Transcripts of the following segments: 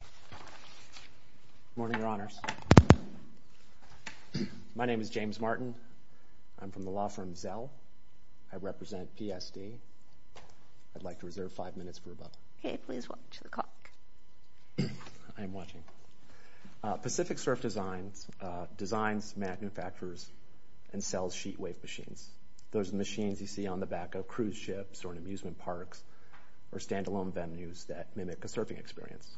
Good morning, Your Honors. My name is James Martin. I'm from the law firm Zelle. I represent PSD. I'd like to reserve five minutes for a but. Okay, please watch the clock. I am watching. Pacific Surf Designs designs, manufactures, and sells sheet wave machines. Those machines you see on the back of cruise ships or in amusement parks or standalone venues that mimic a sailing experience.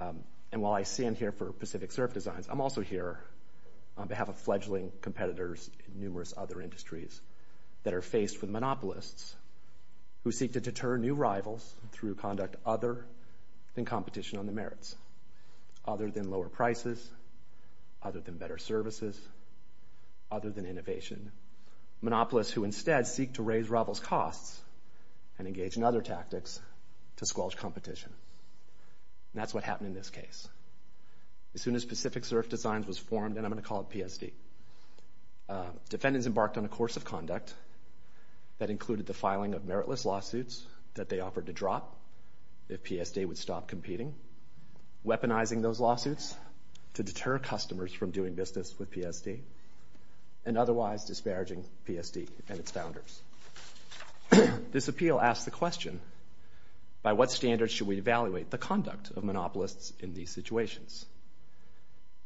And while I stand here for Pacific Surf Designs, I'm also here on behalf of fledgling competitors in numerous other industries that are faced with monopolists who seek to deter new rivals through conduct other than competition on the merits. Other than lower prices. Other than better services. Other than innovation. Monopolists who instead seek to raise rivals' costs and engage in other tactics to squelch competition. And that's what happened in this case. As soon as Pacific Surf Designs was formed, and I'm going to call it PSD, defendants embarked on a course of conduct that included the filing of meritless lawsuits that they offered to drop if PSD would stop competing, weaponizing those lawsuits to deter customers from doing business with PSD, and otherwise disparaging PSD and its founders. This appeal asked the question, by what standards should we evaluate the conduct of monopolists in these situations?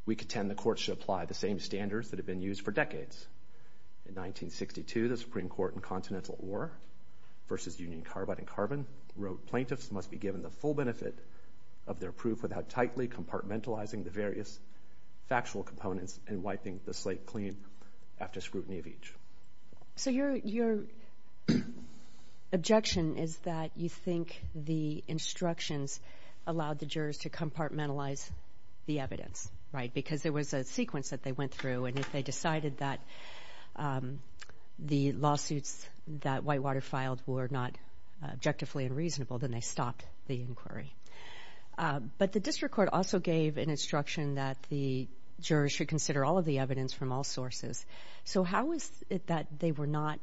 We contend the court should apply the same standards that have been used for decades. In 1962, the Supreme Court in Continental War versus Union Carbide and Carbon wrote, plaintiffs must be given the full benefit of their proof without tightly compartmentalizing the various factual components and wiping the slate clean after scrutiny of each. So your objection is that you think the instructions allowed the jurors to compartmentalize the evidence, right? Because there was a sequence that they went through, and if they decided that the lawsuits that Whitewater filed were not objectively unreasonable, then they stopped the inquiry. But the district court also gave an instruction that the jurors should consider all of the evidence from all sources. So how is it that they were not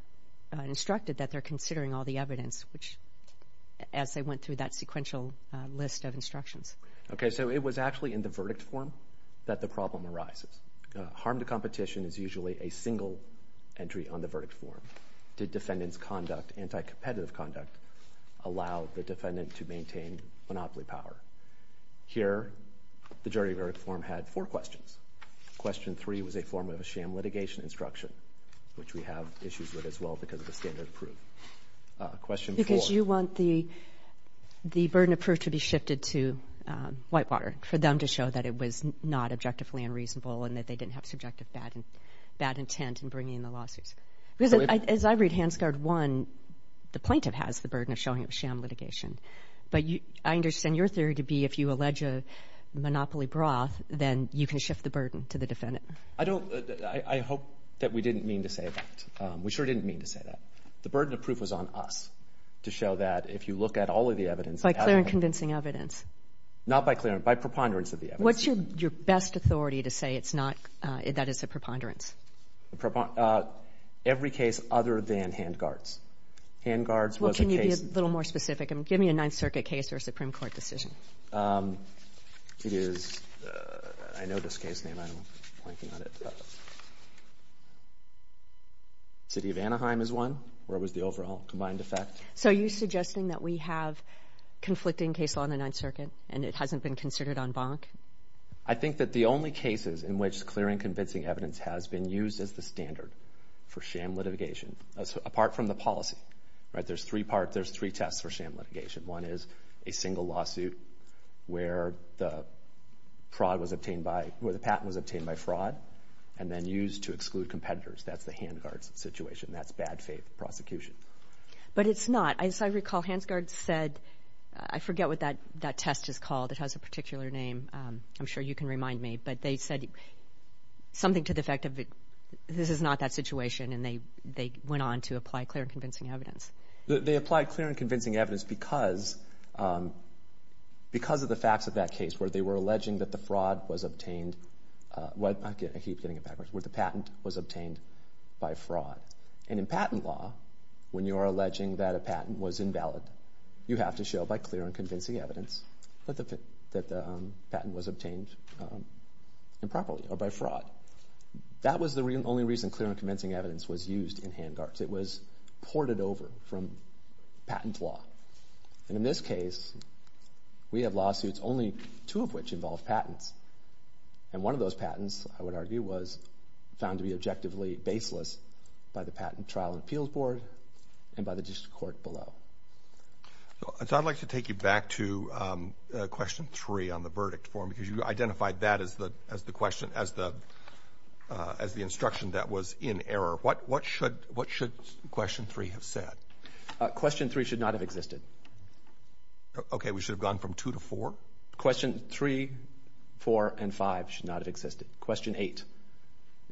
instructed that they're considering all the evidence, which, as they went through that sequential list of instructions? Okay, so it was actually in the verdict form that the problem arises. Harm to competition is usually a single entry on the verdict form. Did defendant's conduct, anti-competitive conduct, allow the defendant to maintain monopoly power? Here, the jury verdict form had four questions. Question three was a form of a sham litigation instruction, which we have issues with as well because of the standard of proof. Question four. Because you want the the burden of proof to be shifted to Whitewater, for them to show that it was not objectively unreasonable and that they didn't have subjective bad intent in bringing in the lawsuits. Because as I read Hansgard 1, the plaintiff has the burden of showing sham litigation. But I understand your theory to be if you allege a monopoly broth, then you can shift the burden to the defendant. I don't. I hope that we didn't mean to say that. We sure didn't mean to say that. The burden of proof was on us to show that if you look at all of the evidence... By clear and convincing evidence. Not by clear and... By preponderance of the evidence. What's your best authority to say it's not... That it's a preponderance? Every case other than Hangard's. Hangard's was a case... Well, can you be a little more specific? Give me a Ninth Circuit case or a Supreme Court decision. It is... I know this case name. I'm blanking on it. City of Anaheim is one, where it was the overall combined effect. So are you suggesting that we have conflicting case law in the Ninth Circuit and it hasn't been considered en banc? I think that the only cases in which clear and convincing evidence has been used as the standard for sham litigation, apart from the policy. There's three parts. There's three tests for sham litigation. One is a single lawsuit where the patent was obtained by fraud and then used to exclude competitors. That's the Hangard's situation. That's bad faith prosecution. But it's not. As I recall, Hangard said... I forget what that test is called. It has a particular name. I'm sure you can remind me. But they said something to the effect of this is not that situation. And they went on to apply clear and convincing evidence. They applied clear and convincing evidence because of the facts of that case, where they were alleging that the fraud was obtained... I keep getting it backwards. Where the patent was obtained by fraud. And in patent law, when you are alleging that a patent was invalid, you have to show by clear and convincing evidence that the patent was obtained improperly or by fraud. That was the only reason clear and convincing evidence was used in Hangard. It was ported over from patent law. And in this case, we have lawsuits, only two of which involve patents. And one of those patents, I would argue, was found to be objectively baseless by the Patent Trial and Appeals Board and by the district court below. So I'd like to take you back to question three on the verdict form, because you identified that as the question... As the instruction that was in error. What should question three have said? Question three should not have existed. Okay, we should have gone from two to four? Question three, four, and five should not have existed. Question eight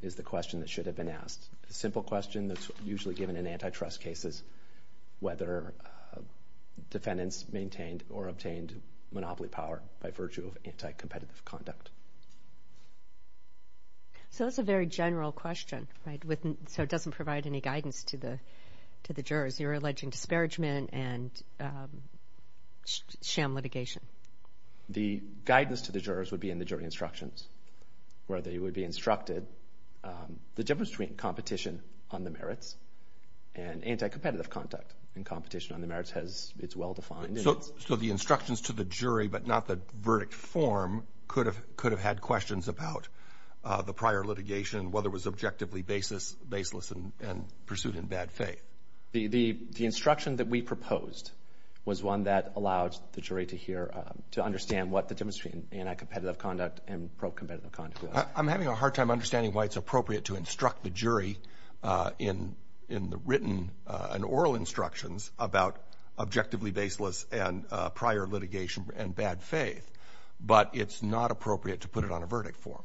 is the question that should have been asked. A simple question that's usually given in antitrust cases, whether defendants maintained or obtained monopoly power by virtue of anticompetitive conduct. So that's a very general question, right? So it doesn't provide any guidance to the jurors. You're alleging disparagement and sham litigation. The guidance to the jurors would be in the jury instructions, where they would be instructed the difference between competition on the merits and anticompetitive conduct. And competition on the merits has... It's well defined. So the instructions to the jury, but not the verdict form, could have had questions about the prior litigation, whether it was objectively baseless and pursued in bad faith. The instruction that we proposed was one that allowed the jury to hear... To understand what the difference between anticompetitive conduct and pro-competitive conduct was. I'm having a hard time understanding why it's appropriate to instruct the jury in the written and oral instructions about objectively baseless and prior litigation and bad faith. But it's not appropriate to put it on a verdict form.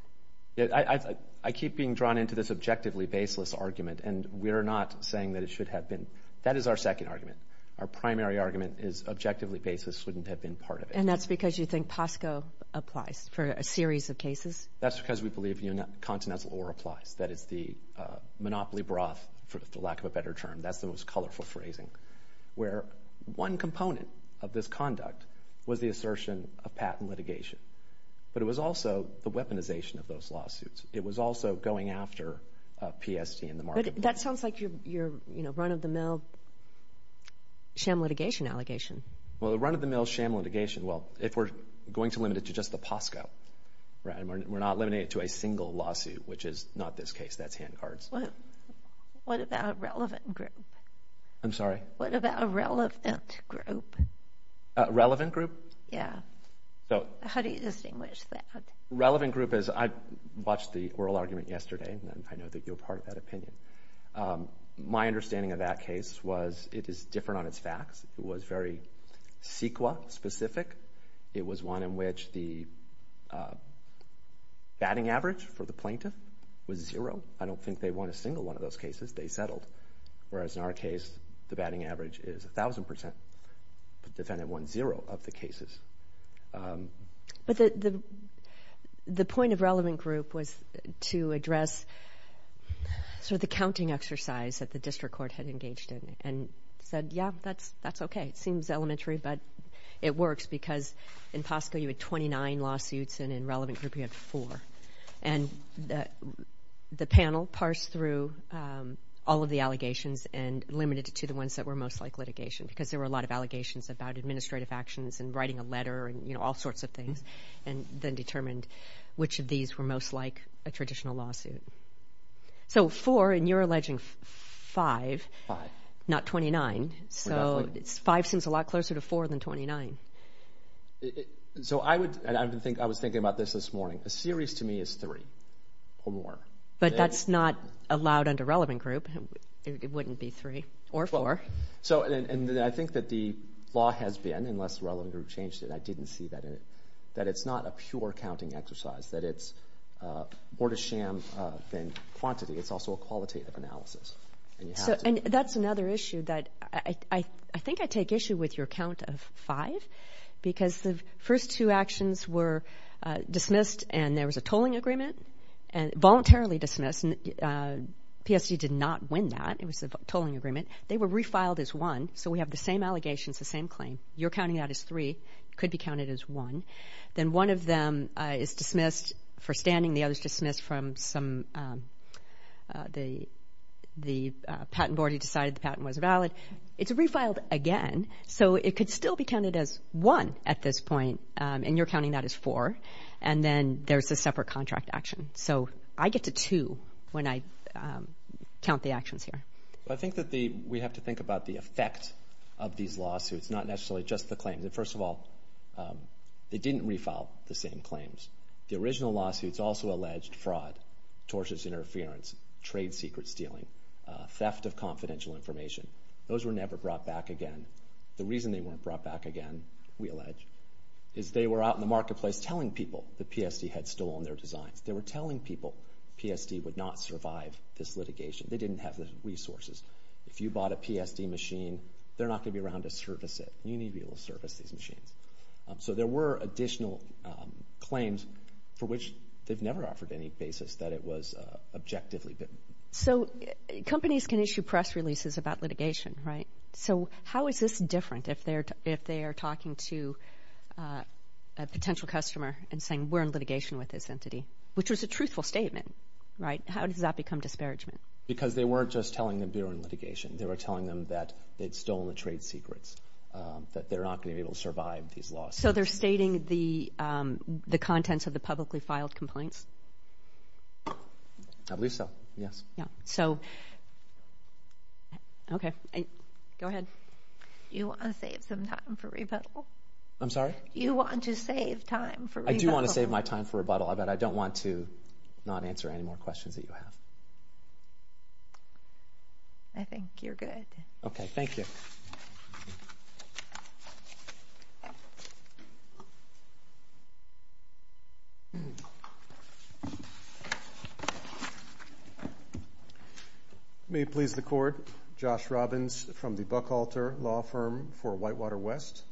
I keep being drawn into this objectively baseless argument and we're not saying that it should have been. That is our second argument. Our primary argument is objectively baseless wouldn't have been part of it. And that's because you think POSCO applies for a series of cases? That's because we believe Continental Or applies. That is the monopoly broth, for lack of a better term. That's the most colorful phrasing. Where one component of this conduct was the assertion of patent litigation, but it was also the weaponization of those lawsuits. It was also going after PST in the market. But that sounds like your run of the mill sham litigation allegation. Well, the run of the mill sham litigation, well, if we're going to limit it to just the POSCO, we're not limiting it to a single lawsuit, which is not this case, that's hand cards. What about a relevant group? I'm sorry? What about a relevant group? A relevant group? Yeah. How do you distinguish that? Relevant group is... I watched the oral argument yesterday and I know that you're part of that opinion. My understanding of that case was it is different on its facts. It was very CEQA specific. It was one in which the batting average for the plaintiff was zero. I don't think they won a single one of those cases. They settled. Whereas in our case, the batting average is 1000%. The defendant won zero of the cases. But the point of relevant group was to address the counting exercise that the district court had engaged in and said, yeah, that's okay. It seems elementary, but it works because in POSCO you had 29 lawsuits and in relevant group you had four. And the panel parsed through all of the allegations and limited it to the ones that were most like litigation, because there were a lot of allegations about administrative actions and writing a letter and all sorts of things, and then determined which of these were most like a traditional lawsuit. So four, and you're alleging five, not 29. So five seems a lot closer to four than 29. So I would... I was thinking about this this morning. A series to me is three or more. But that's not allowed under relevant group. It wouldn't be three or four. And I think that the law has been, unless relevant group changed it, I didn't see that it's not a pure counting exercise, that it's more to sham than quantity. It's also a qualitative analysis. And you have to... So... And that's another issue that I think I take issue with your count of five, because the first two actions were dismissed and there was a tolling agreement and... Voluntarily dismissed. PSG did not win that. It was a tolling agreement. They were refiled as one, so we have the same allegations, the same claim. You're counting that as three. It could be counted as one. Then one of them is dismissed for standing. The other is dismissed from some... The patent board who decided the patent was valid. It's refiled again, so it could still be counted as one at this point, and you're counting that as four. And then there's a separate contract action. So I get to two when I count the actions here. I think that the... We have to think about the effect of these lawsuits, not necessarily just the claims. And first of all, they didn't refile the same claims. The original lawsuits also alleged fraud, tortious interference, trade secret stealing, theft of confidential information. Those were never brought back again. The reason they weren't brought back again, we allege, is they were out in the marketplace telling people that PSG had stolen their designs. They were telling people PSG would not survive this litigation. They didn't have the resources. If you bought a PSG machine, they're not gonna be around to service it. You need to service these machines. So there were additional claims for which they've never offered any basis that it was objectively bitten. So companies can issue press releases about litigation, right? So how is this different if they are talking to a potential customer and saying, we're in litigation with this entity, which was a truthful statement, right? How does that become disparagement? Because they weren't just telling them they were in litigation. They were telling them that they'd stolen the trade secrets, that they're not gonna be able to survive these lawsuits. So they're stating the contents of the publicly filed complaints? I believe so, yes. Yeah. So... Okay. Go ahead. Do you wanna save some time for rebuttal? I'm sorry? Do you want to save time for rebuttal? I do wanna save my time for rebuttal, but I don't want to not answer any more questions that you have. I think you're good. Okay, thank you. May it please the court, Josh Robbins from the Buckhalter Law Firm for Whitewater West.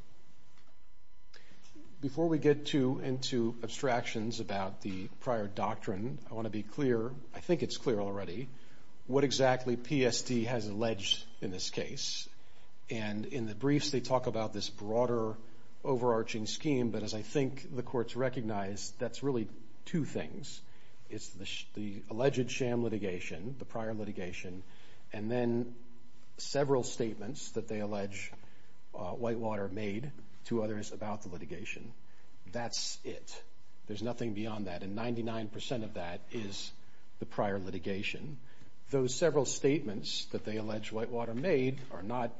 Before we get too into abstractions about the prior doctrine, I wanna be clear, I think it's clear already, what exactly PST has alleged in this case. And in the briefs, they talk about this broader, overarching scheme, but as I think the courts recognize, that's really two things. It's the alleged sham litigation, the prior litigation, and then several statements that they allege Whitewater made to others about the litigation. That's it. There's nothing beyond that, and 99% of that is the prior litigation. Those several statements that they allege Whitewater made are not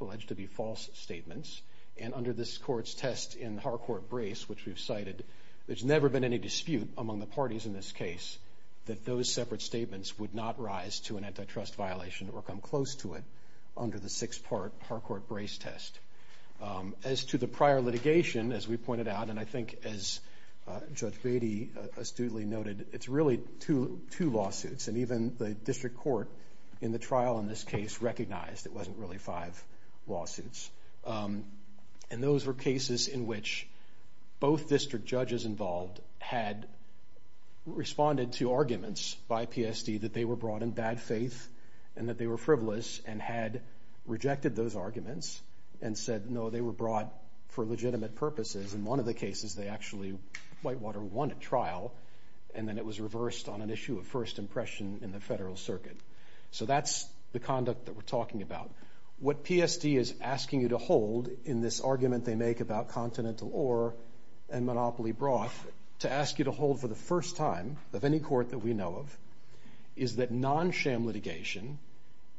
alleged to be false statements, and under this court's test in Harcourt Brace, which we've cited, there's never been any dispute among the parties in this case that those separate statements would not rise to an antitrust violation or come close to it under the six part Harcourt Brace test. As to the prior litigation, as we pointed out, and I think as Judge Beatty astutely noted, it's really two lawsuits, and even the district court in the trial in this case recognized it wasn't really five lawsuits. And those were cases in which both district judges involved had responded to arguments by PST that they were brought in bad faith and that they were frivolous and had rejected those arguments and said, no, they were brought for legitimate purposes. In one of the cases, they actually... Whitewater won a trial, and then it was reversed on an issue of first impression in the federal circuit. So that's the conduct that we're talking about. What PST is asking you to hold in this argument they make about continental ore and monopoly broth, to ask you to hold for the first time of any court that we know of, is that non sham litigation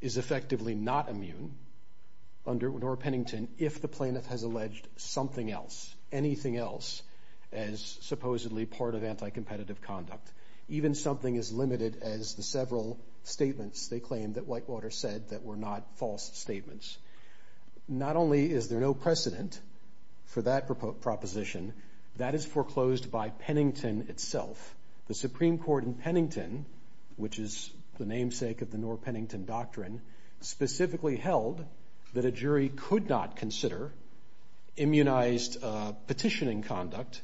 is effectively not immune under Pennington if the plaintiff has alleged something else, anything else as supposedly part of anti competitive conduct. Even something as limited as the several statements they claimed that Whitewater said that were not false statements. Not only is there no precedent for that proposition, that is foreclosed by Pennington itself. The Supreme Court in Pennington, which is the namesake of the Noor-Pennington Doctrine, specifically held that a jury could not consider immunized petitioning conduct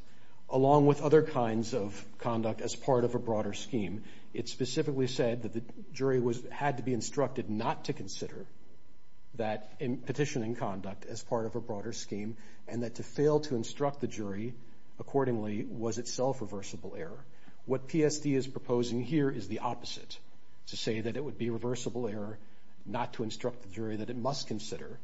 along with other kinds of conduct as part of a broader scheme. It specifically said that the jury had to be instructed not to consider that petitioning conduct as part of a broader scheme, and that to fail to instruct the jury accordingly was itself a reversible error. What PSD is proposing here is the opposite, to say that it would be a reversible error not to instruct the jury that it must consider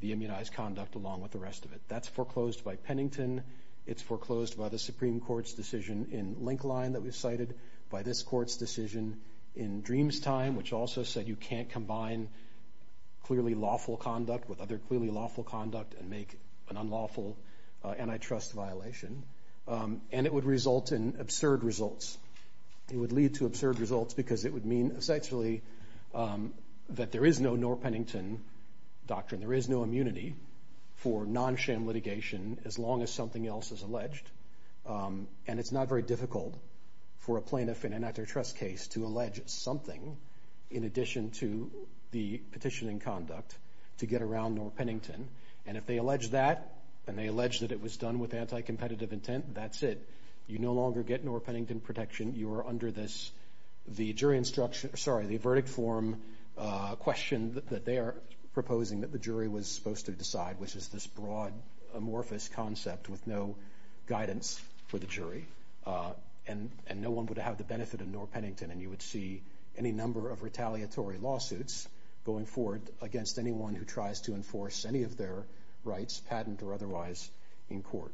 the immunized conduct along with the rest of it. That's foreclosed by Pennington, it's foreclosed by the Supreme Court's decision in Linkline that was cited, by this court's decision in Dreamstime, which also said you can't combine clearly lawful conduct with other clearly lawful conduct and make an unlawful antitrust violation. And it would result in absurd results. It would lead to absurd results because it would mean essentially that there is no Noor-Pennington Doctrine, there is no immunity for non-SHAM litigation as long as something else is alleged. And it's not very difficult for a plaintiff in an antitrust case to allege something in addition to the petitioning conduct to get around Noor-Pennington. And if they allege that, and they allege that it was done with anti-competitive intent, that's it. You no longer get Noor-Pennington protection, you are under this, the jury instruction... Sorry, the verdict form question that they are proposing that the jury was supposed to decide, which is this broad, amorphous concept with no guidance for the jury. And no one would have the benefit of Noor-Pennington, and you would see any number of retaliatory lawsuits going forward against anyone who tries to enforce any of their rights, patent or otherwise, in court.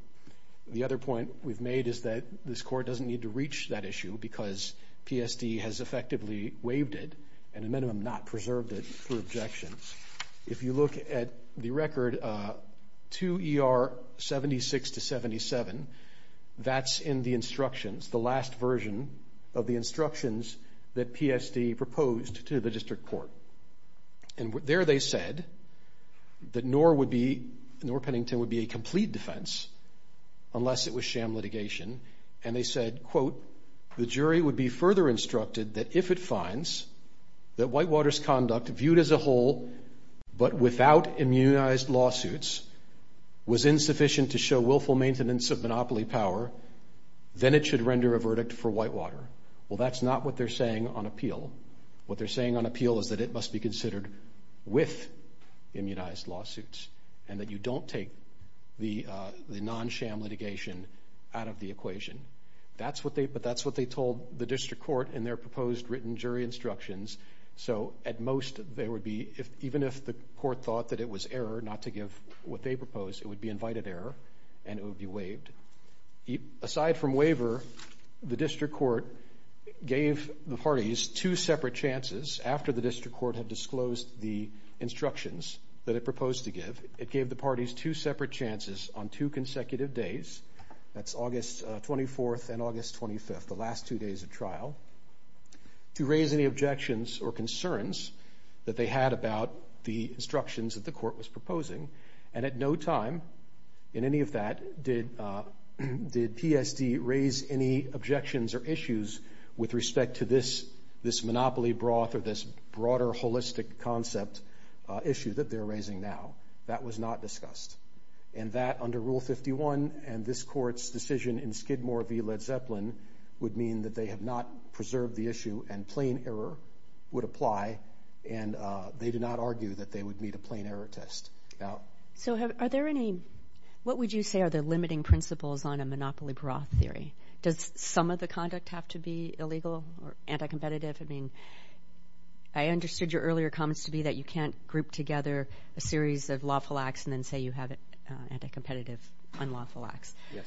The other point we've made is that this court doesn't need to reach that issue because PSD has effectively waived it, and a minimum not preserved it through objections. If you look at the record, 2 ER 76-77, that's in the instructions, the last version of the instructions that PSD proposed to the district court. And there they said that Noor-Pennington would be a complete defense unless it was sham litigation, and they said, quote, the jury would be further instructed that if it finds that Whitewater's conduct viewed as a whole, but without immunized lawsuits, was insufficient to show willful maintenance of monopoly power, then it should render a verdict for Whitewater. Well, that's not what they're saying on appeal. What they're saying on appeal is that it must be considered with immunized lawsuits, and that you don't take the non-sham litigation out of the equation. But that's what they told the district court in their proposed written jury instructions. So at most, there would be... Even if the court thought that it was error not to give what they proposed, it would be invited error, and it would be waived. Aside from waiver, the district court gave the parties two separate chances after the district court had disclosed the instructions that it proposed to give. It gave the parties two separate chances on two consecutive days, that's August 24th and August 25th, the last two days of trial, to raise any objections or concerns that they had about the instructions that the court was proposing. And at no time in any of that, did PSD raise any objections or issues with respect to this monopoly broth or this broader holistic concept issue that they're raising now. That was not discussed. And that, under Rule 51 and this court's decision in Skidmore v Led Zeppelin, would mean that they have not preserved the issue, and plain error would apply, and they did not argue that they would meet a plain error test. So are there any... What would you say are the limiting principles on a monopoly broth theory? Does some of the conduct have to be illegal or anti competitive? I understood your earlier comments to be that you can't group together a series of lawful acts and then say you have an anti competitive, unlawful acts. Yes.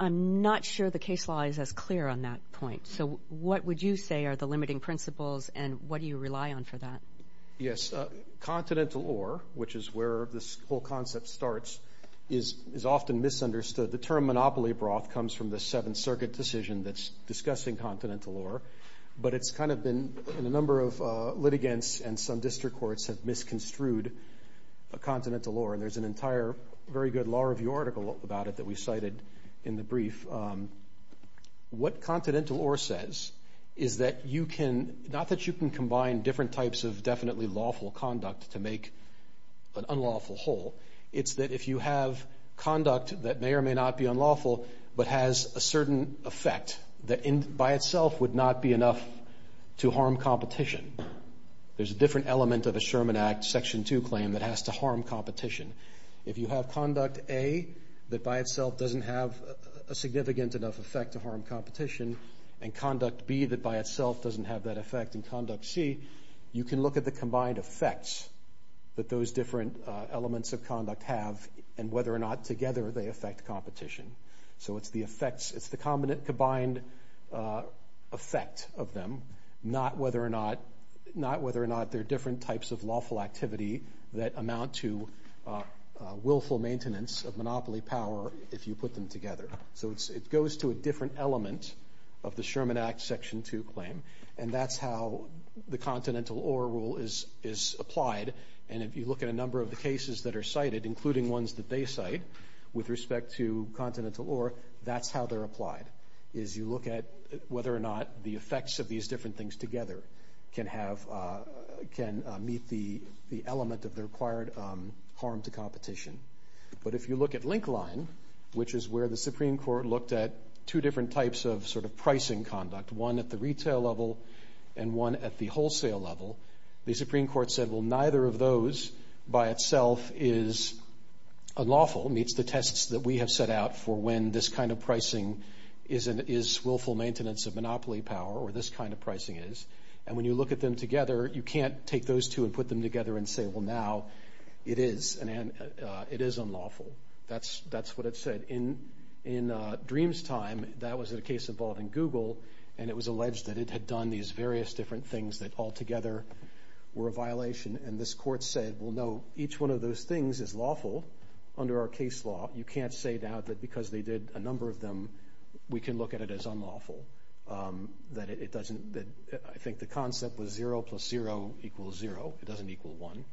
I'm not sure the case law is as clear on that point. So what would you say are the limiting principles, and what do you rely on for that? Yes. Continental law, which is where this whole concept starts, is often misunderstood. The term monopoly broth comes from the Seventh Circuit decision that's discussing continental law, but it's kind of been... And a number of litigants and some district courts have misconstrued continental law, and there's an entire very good law review article about it that we cited in the brief. What continental law says is that you can... Not that you can combine different types of definitely lawful conduct to make an unlawful whole, it's that if you have conduct that may or may not be unlawful, but has a certain effect that by itself would not be enough to harm competition. There's a different element of a Sherman Act Section 2 claim that has to harm competition. If you have conduct A, that by itself doesn't have a significant enough effect to harm competition, and conduct B, that by itself doesn't have that effect, and conduct C, you can look at the combined effects that those different elements of conduct have, and whether or not together they affect competition. So it's the effects, it's the combined effect of them, not whether or not they're different types of lawful activity that amount to willful maintenance of monopoly power if you put them together. So it goes to a different element of the Sherman Act Section 2 claim, and that's how the Continental Or Rule is applied. And if you look at a number of the cases that are cited, including ones that they cite with respect to continental or, that's how they're applied, is you look at whether or not the effects of these different things together can meet the element of the required harm to competition. But if you look at link line, which is where the Supreme Court looked at two different types of pricing conduct, one at the retail level and one at the wholesale level, the Supreme Court said, Well, neither of those by itself is unlawful, meets the tests that we have set out for when this kind of pricing is willful maintenance of monopoly power, or this kind of pricing is. And when you look at them together, you can't take those two and put them together and say, Well, now it is unlawful. That's what it said. In Dream's time, that was a case involved in Google, and it was alleged that it had done these various different things that altogether were a violation. And this court said, Well, no, each one of those things is lawful under our case law. You can't say now that because they did a number of them, we can look at it as unlawful. I think the concept was zero plus zero equals zero. It doesn't equal one.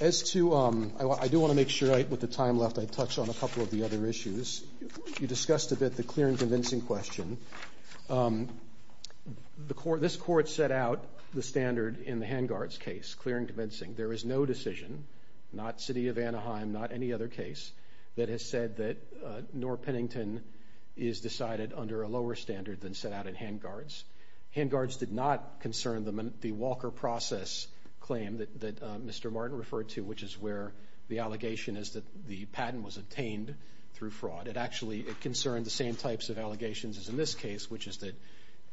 As to... I do wanna make sure with the time left, I touch on a couple of the other issues. You discussed a bit the clear and convincing question. This court set out the standard in the Hangard's case, clear and convincing. There is no decision, not City of Anaheim, not any other case, that has said that Noor Pennington is decided under a lower standard than set out in Hangard's. Hangard's did not concern the Walker process claim that Mr. Martin referred to, which is where the allegation is that the patent was obtained through fraud. It actually concerned the same types of allegations as in this case, which is that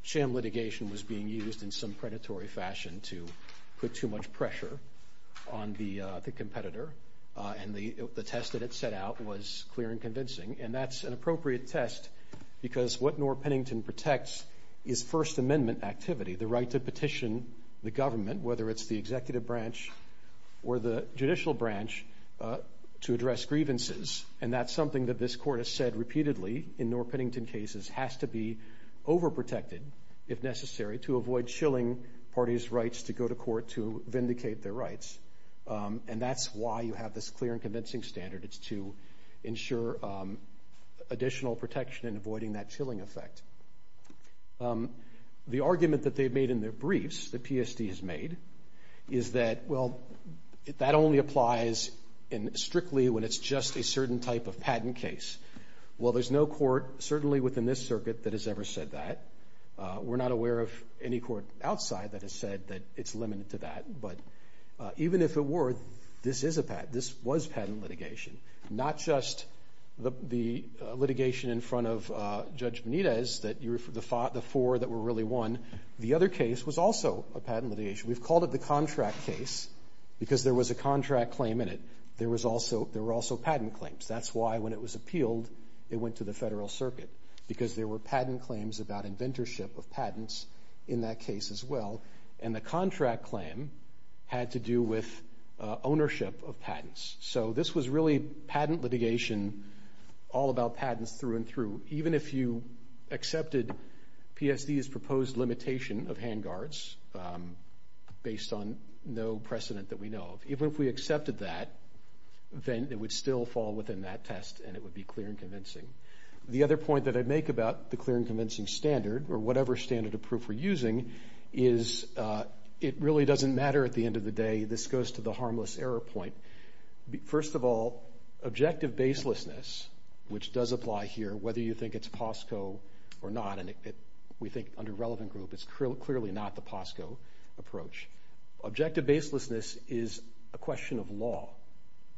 sham litigation was being used in some predatory fashion to put too much pressure on the competitor. And the test that it set out was clear and convincing. And that's an appropriate test because what Noor Pennington protects is First Amendment activity, the right to petition the government, whether it's the executive branch or the judicial branch to address grievances. And that's something that this court has said repeatedly in Noor Pennington cases, has to be over protected, if necessary, to avoid chilling parties' rights to go to court to vindicate their rights. And that's why you have this clear and convincing standard. It's to ensure additional protection and avoiding that chilling effect. The argument that they've made in their briefs, that PSD has made, is that, well, that only applies strictly when it's just a certain type of patent case. Well, there's no court, certainly within this circuit, that has ever said that. We're not aware of any court outside that has said that it's limited to that. But even if it were, this is a patent, this was patent litigation. Not just the litigation in front of Judge Benitez, that the four that were really one, the other case was also a patent litigation. We've called it the contract case because there was a contract claim in it. There were also patent claims. That's why when it was appealed, it went to the Federal Circuit, because there were patent claims about inventorship of patents in that case as well. And the contract claim had to do with ownership of patents. So this was really patent litigation, all about patents through and through. Even if you accepted PSD's proposed limitation of hand guards, based on no precedent that we know of. Even if we accepted that, then it would still fall within that test and it would be clear and convincing. The other point that I make about the clear and convincing standard, or whatever standard of proof we're using, is it really doesn't matter at the end of the day. This goes to the harmless error point. First of all, objective baselessness, which does apply here, whether you think it's POSCO or not, and we think under relevant group, it's clearly not the POSCO approach. Objective baselessness is a question of law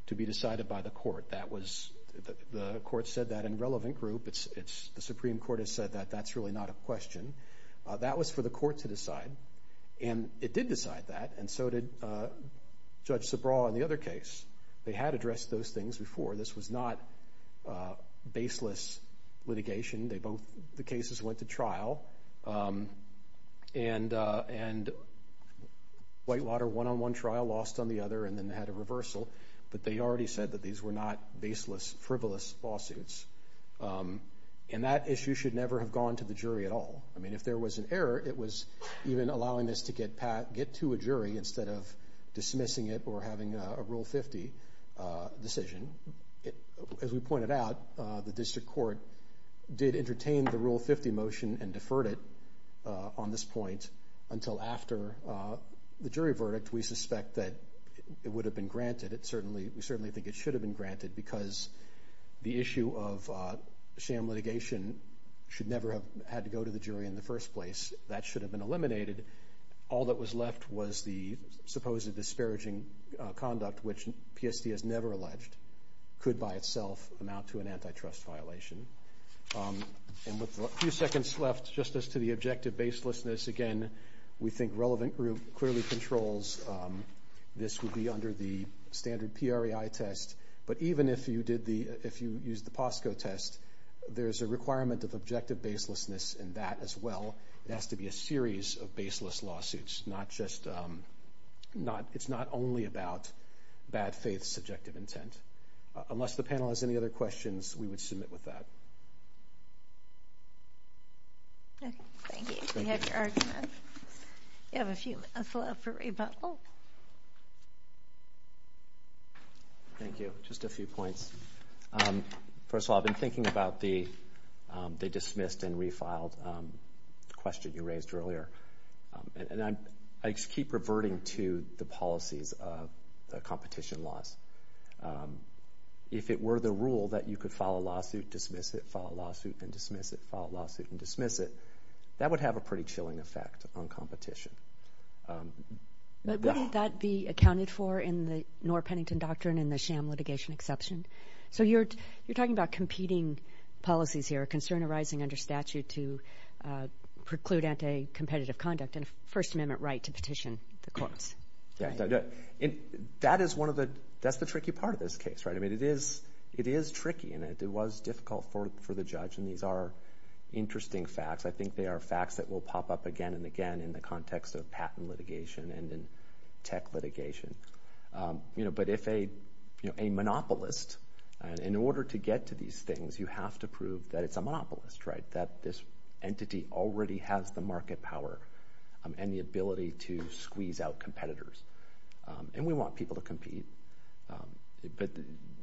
to be decided by the court. The court said that in relevant group. The Supreme Court has said that that's really not a question. That was for the court to decide. And it did decide that, and so did Judge Subraw in the other case. They had addressed those things before. This was not baseless litigation. The cases went to trial, and Whitewater one on one trial, lost on the other, and then had a reversal. But they already said that these were not baseless, frivolous lawsuits. And that issue should never have gone to the jury at all. I mean, if there was an error, it was even allowing this to get to a jury instead of dismissing it or having a Rule 50 decision. As we pointed out, the district court did entertain the Rule 50 motion and deferred it on this point until after the jury verdict. We suspect that it would have been granted. We certainly think it should have been granted because the issue of sham litigation should never have had to go to the jury in the first place. That should have been eliminated. All that was left was the supposedly disparaging conduct, which PSD has never alleged, could by itself amount to an antitrust violation. And with a few seconds left, just as to the objective baselessness, again, we think relevant group clearly controls. This would be under the standard PRAI test. But even if you use the POSCO test, there's a requirement of objective baselessness in that as well. It has to be a series of baseless lawsuits. It's not only about bad faith, subjective intent. Unless the panel has any other questions, we would submit with that. Thank you. We have your argument. You have a few minutes left for rebuttal. Thank you. Just a few points. First of all, I've been thinking about the dismissed and refiled question you raised earlier. And I just keep reverting to the policies of the competition laws. If it were the rule that you could file a lawsuit, dismiss it, file a lawsuit, then dismiss it, file a lawsuit, then dismiss it, that would have a pretty chilling effect on competition. But wouldn't that be accounted for in the Noor-Pennington Doctrine in the sham litigation exception? So you're talking about competing policies here, a concern arising under statute to preclude anti competitive conduct and a First Amendment right to petition the courts. Yeah. That is one of the... That's the tricky part of this case. I mean, it is tricky and it was difficult for the judge and these are interesting facts. I think they are facts that will pop up again and again in the context of patent litigation and in tech litigation. But if a monopolist, in order to get to these things, you have to prove that it's a monopolist, that this entity already has the market power and the ability to squeeze out competitors. And we want people to compete. But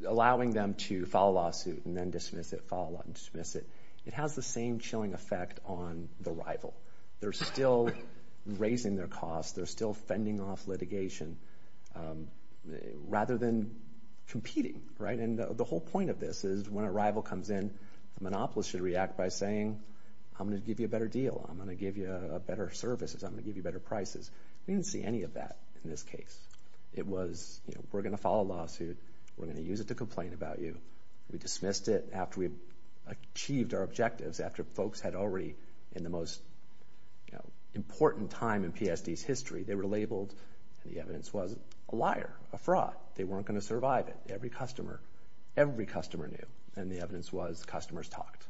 allowing them to file a lawsuit and then dismiss it, file a lawsuit and dismiss it, it has the same chilling effect on the rival. They're still raising their costs, they're still fending off litigation, rather than competing. And the whole point of this is when a rival comes in, the monopolist should react by saying, I'm gonna give you a better deal, I'm gonna give you better services, I'm gonna give you better prices. We didn't see any of that in this case. It was, we're gonna file a lawsuit, we're gonna use it to complain about you. We dismissed it after we had achieved our objectives, after folks had already, in the most important time in PSD's history, they were labeled and the evidence was a liar, a fraud. They weren't gonna survive it. Every customer, every customer knew. And the evidence was, customers talked.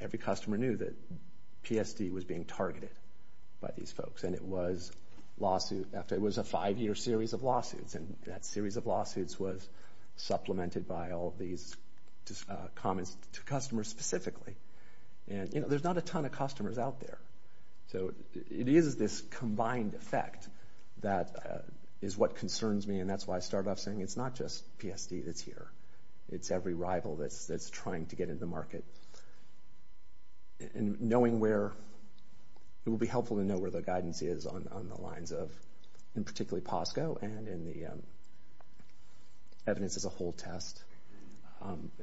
Every customer knew that PSD was being targeted by these folks. And it was a five year series of lawsuits, and that series of lawsuits was supplemented by all of these comments to customers specifically. And there's not a ton of customers out there. So it is this combined effect that is what concerns me, and that's why I started off saying, it's not just PSD that's here. It's every rival that's trying to get in the market. And knowing where, it will be helpful to know where the guidance is on the lines of, in particularly POSCO and in the evidence as a whole test.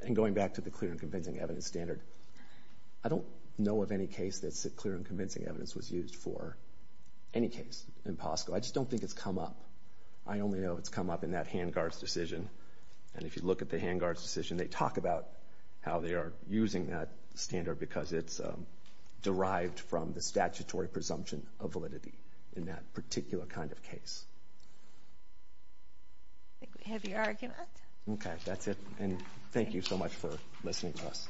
And going back to the clear and convincing evidence standard, I don't know of any case that clear and convincing evidence was used for any case in POSCO. I just don't think it's come up. I only know it's come up in that hand guard's decision. And if you look at the hand guard's decision, they talk about how they are using that standard, because it's derived from the statutory presumption of validity in that particular kind of case. I think we have your argument. Okay, that's it. And thank you so much for listening to us.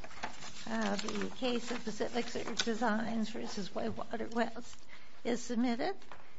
The case of Pacific Surge Designs versus Whitewater Wells is submitted.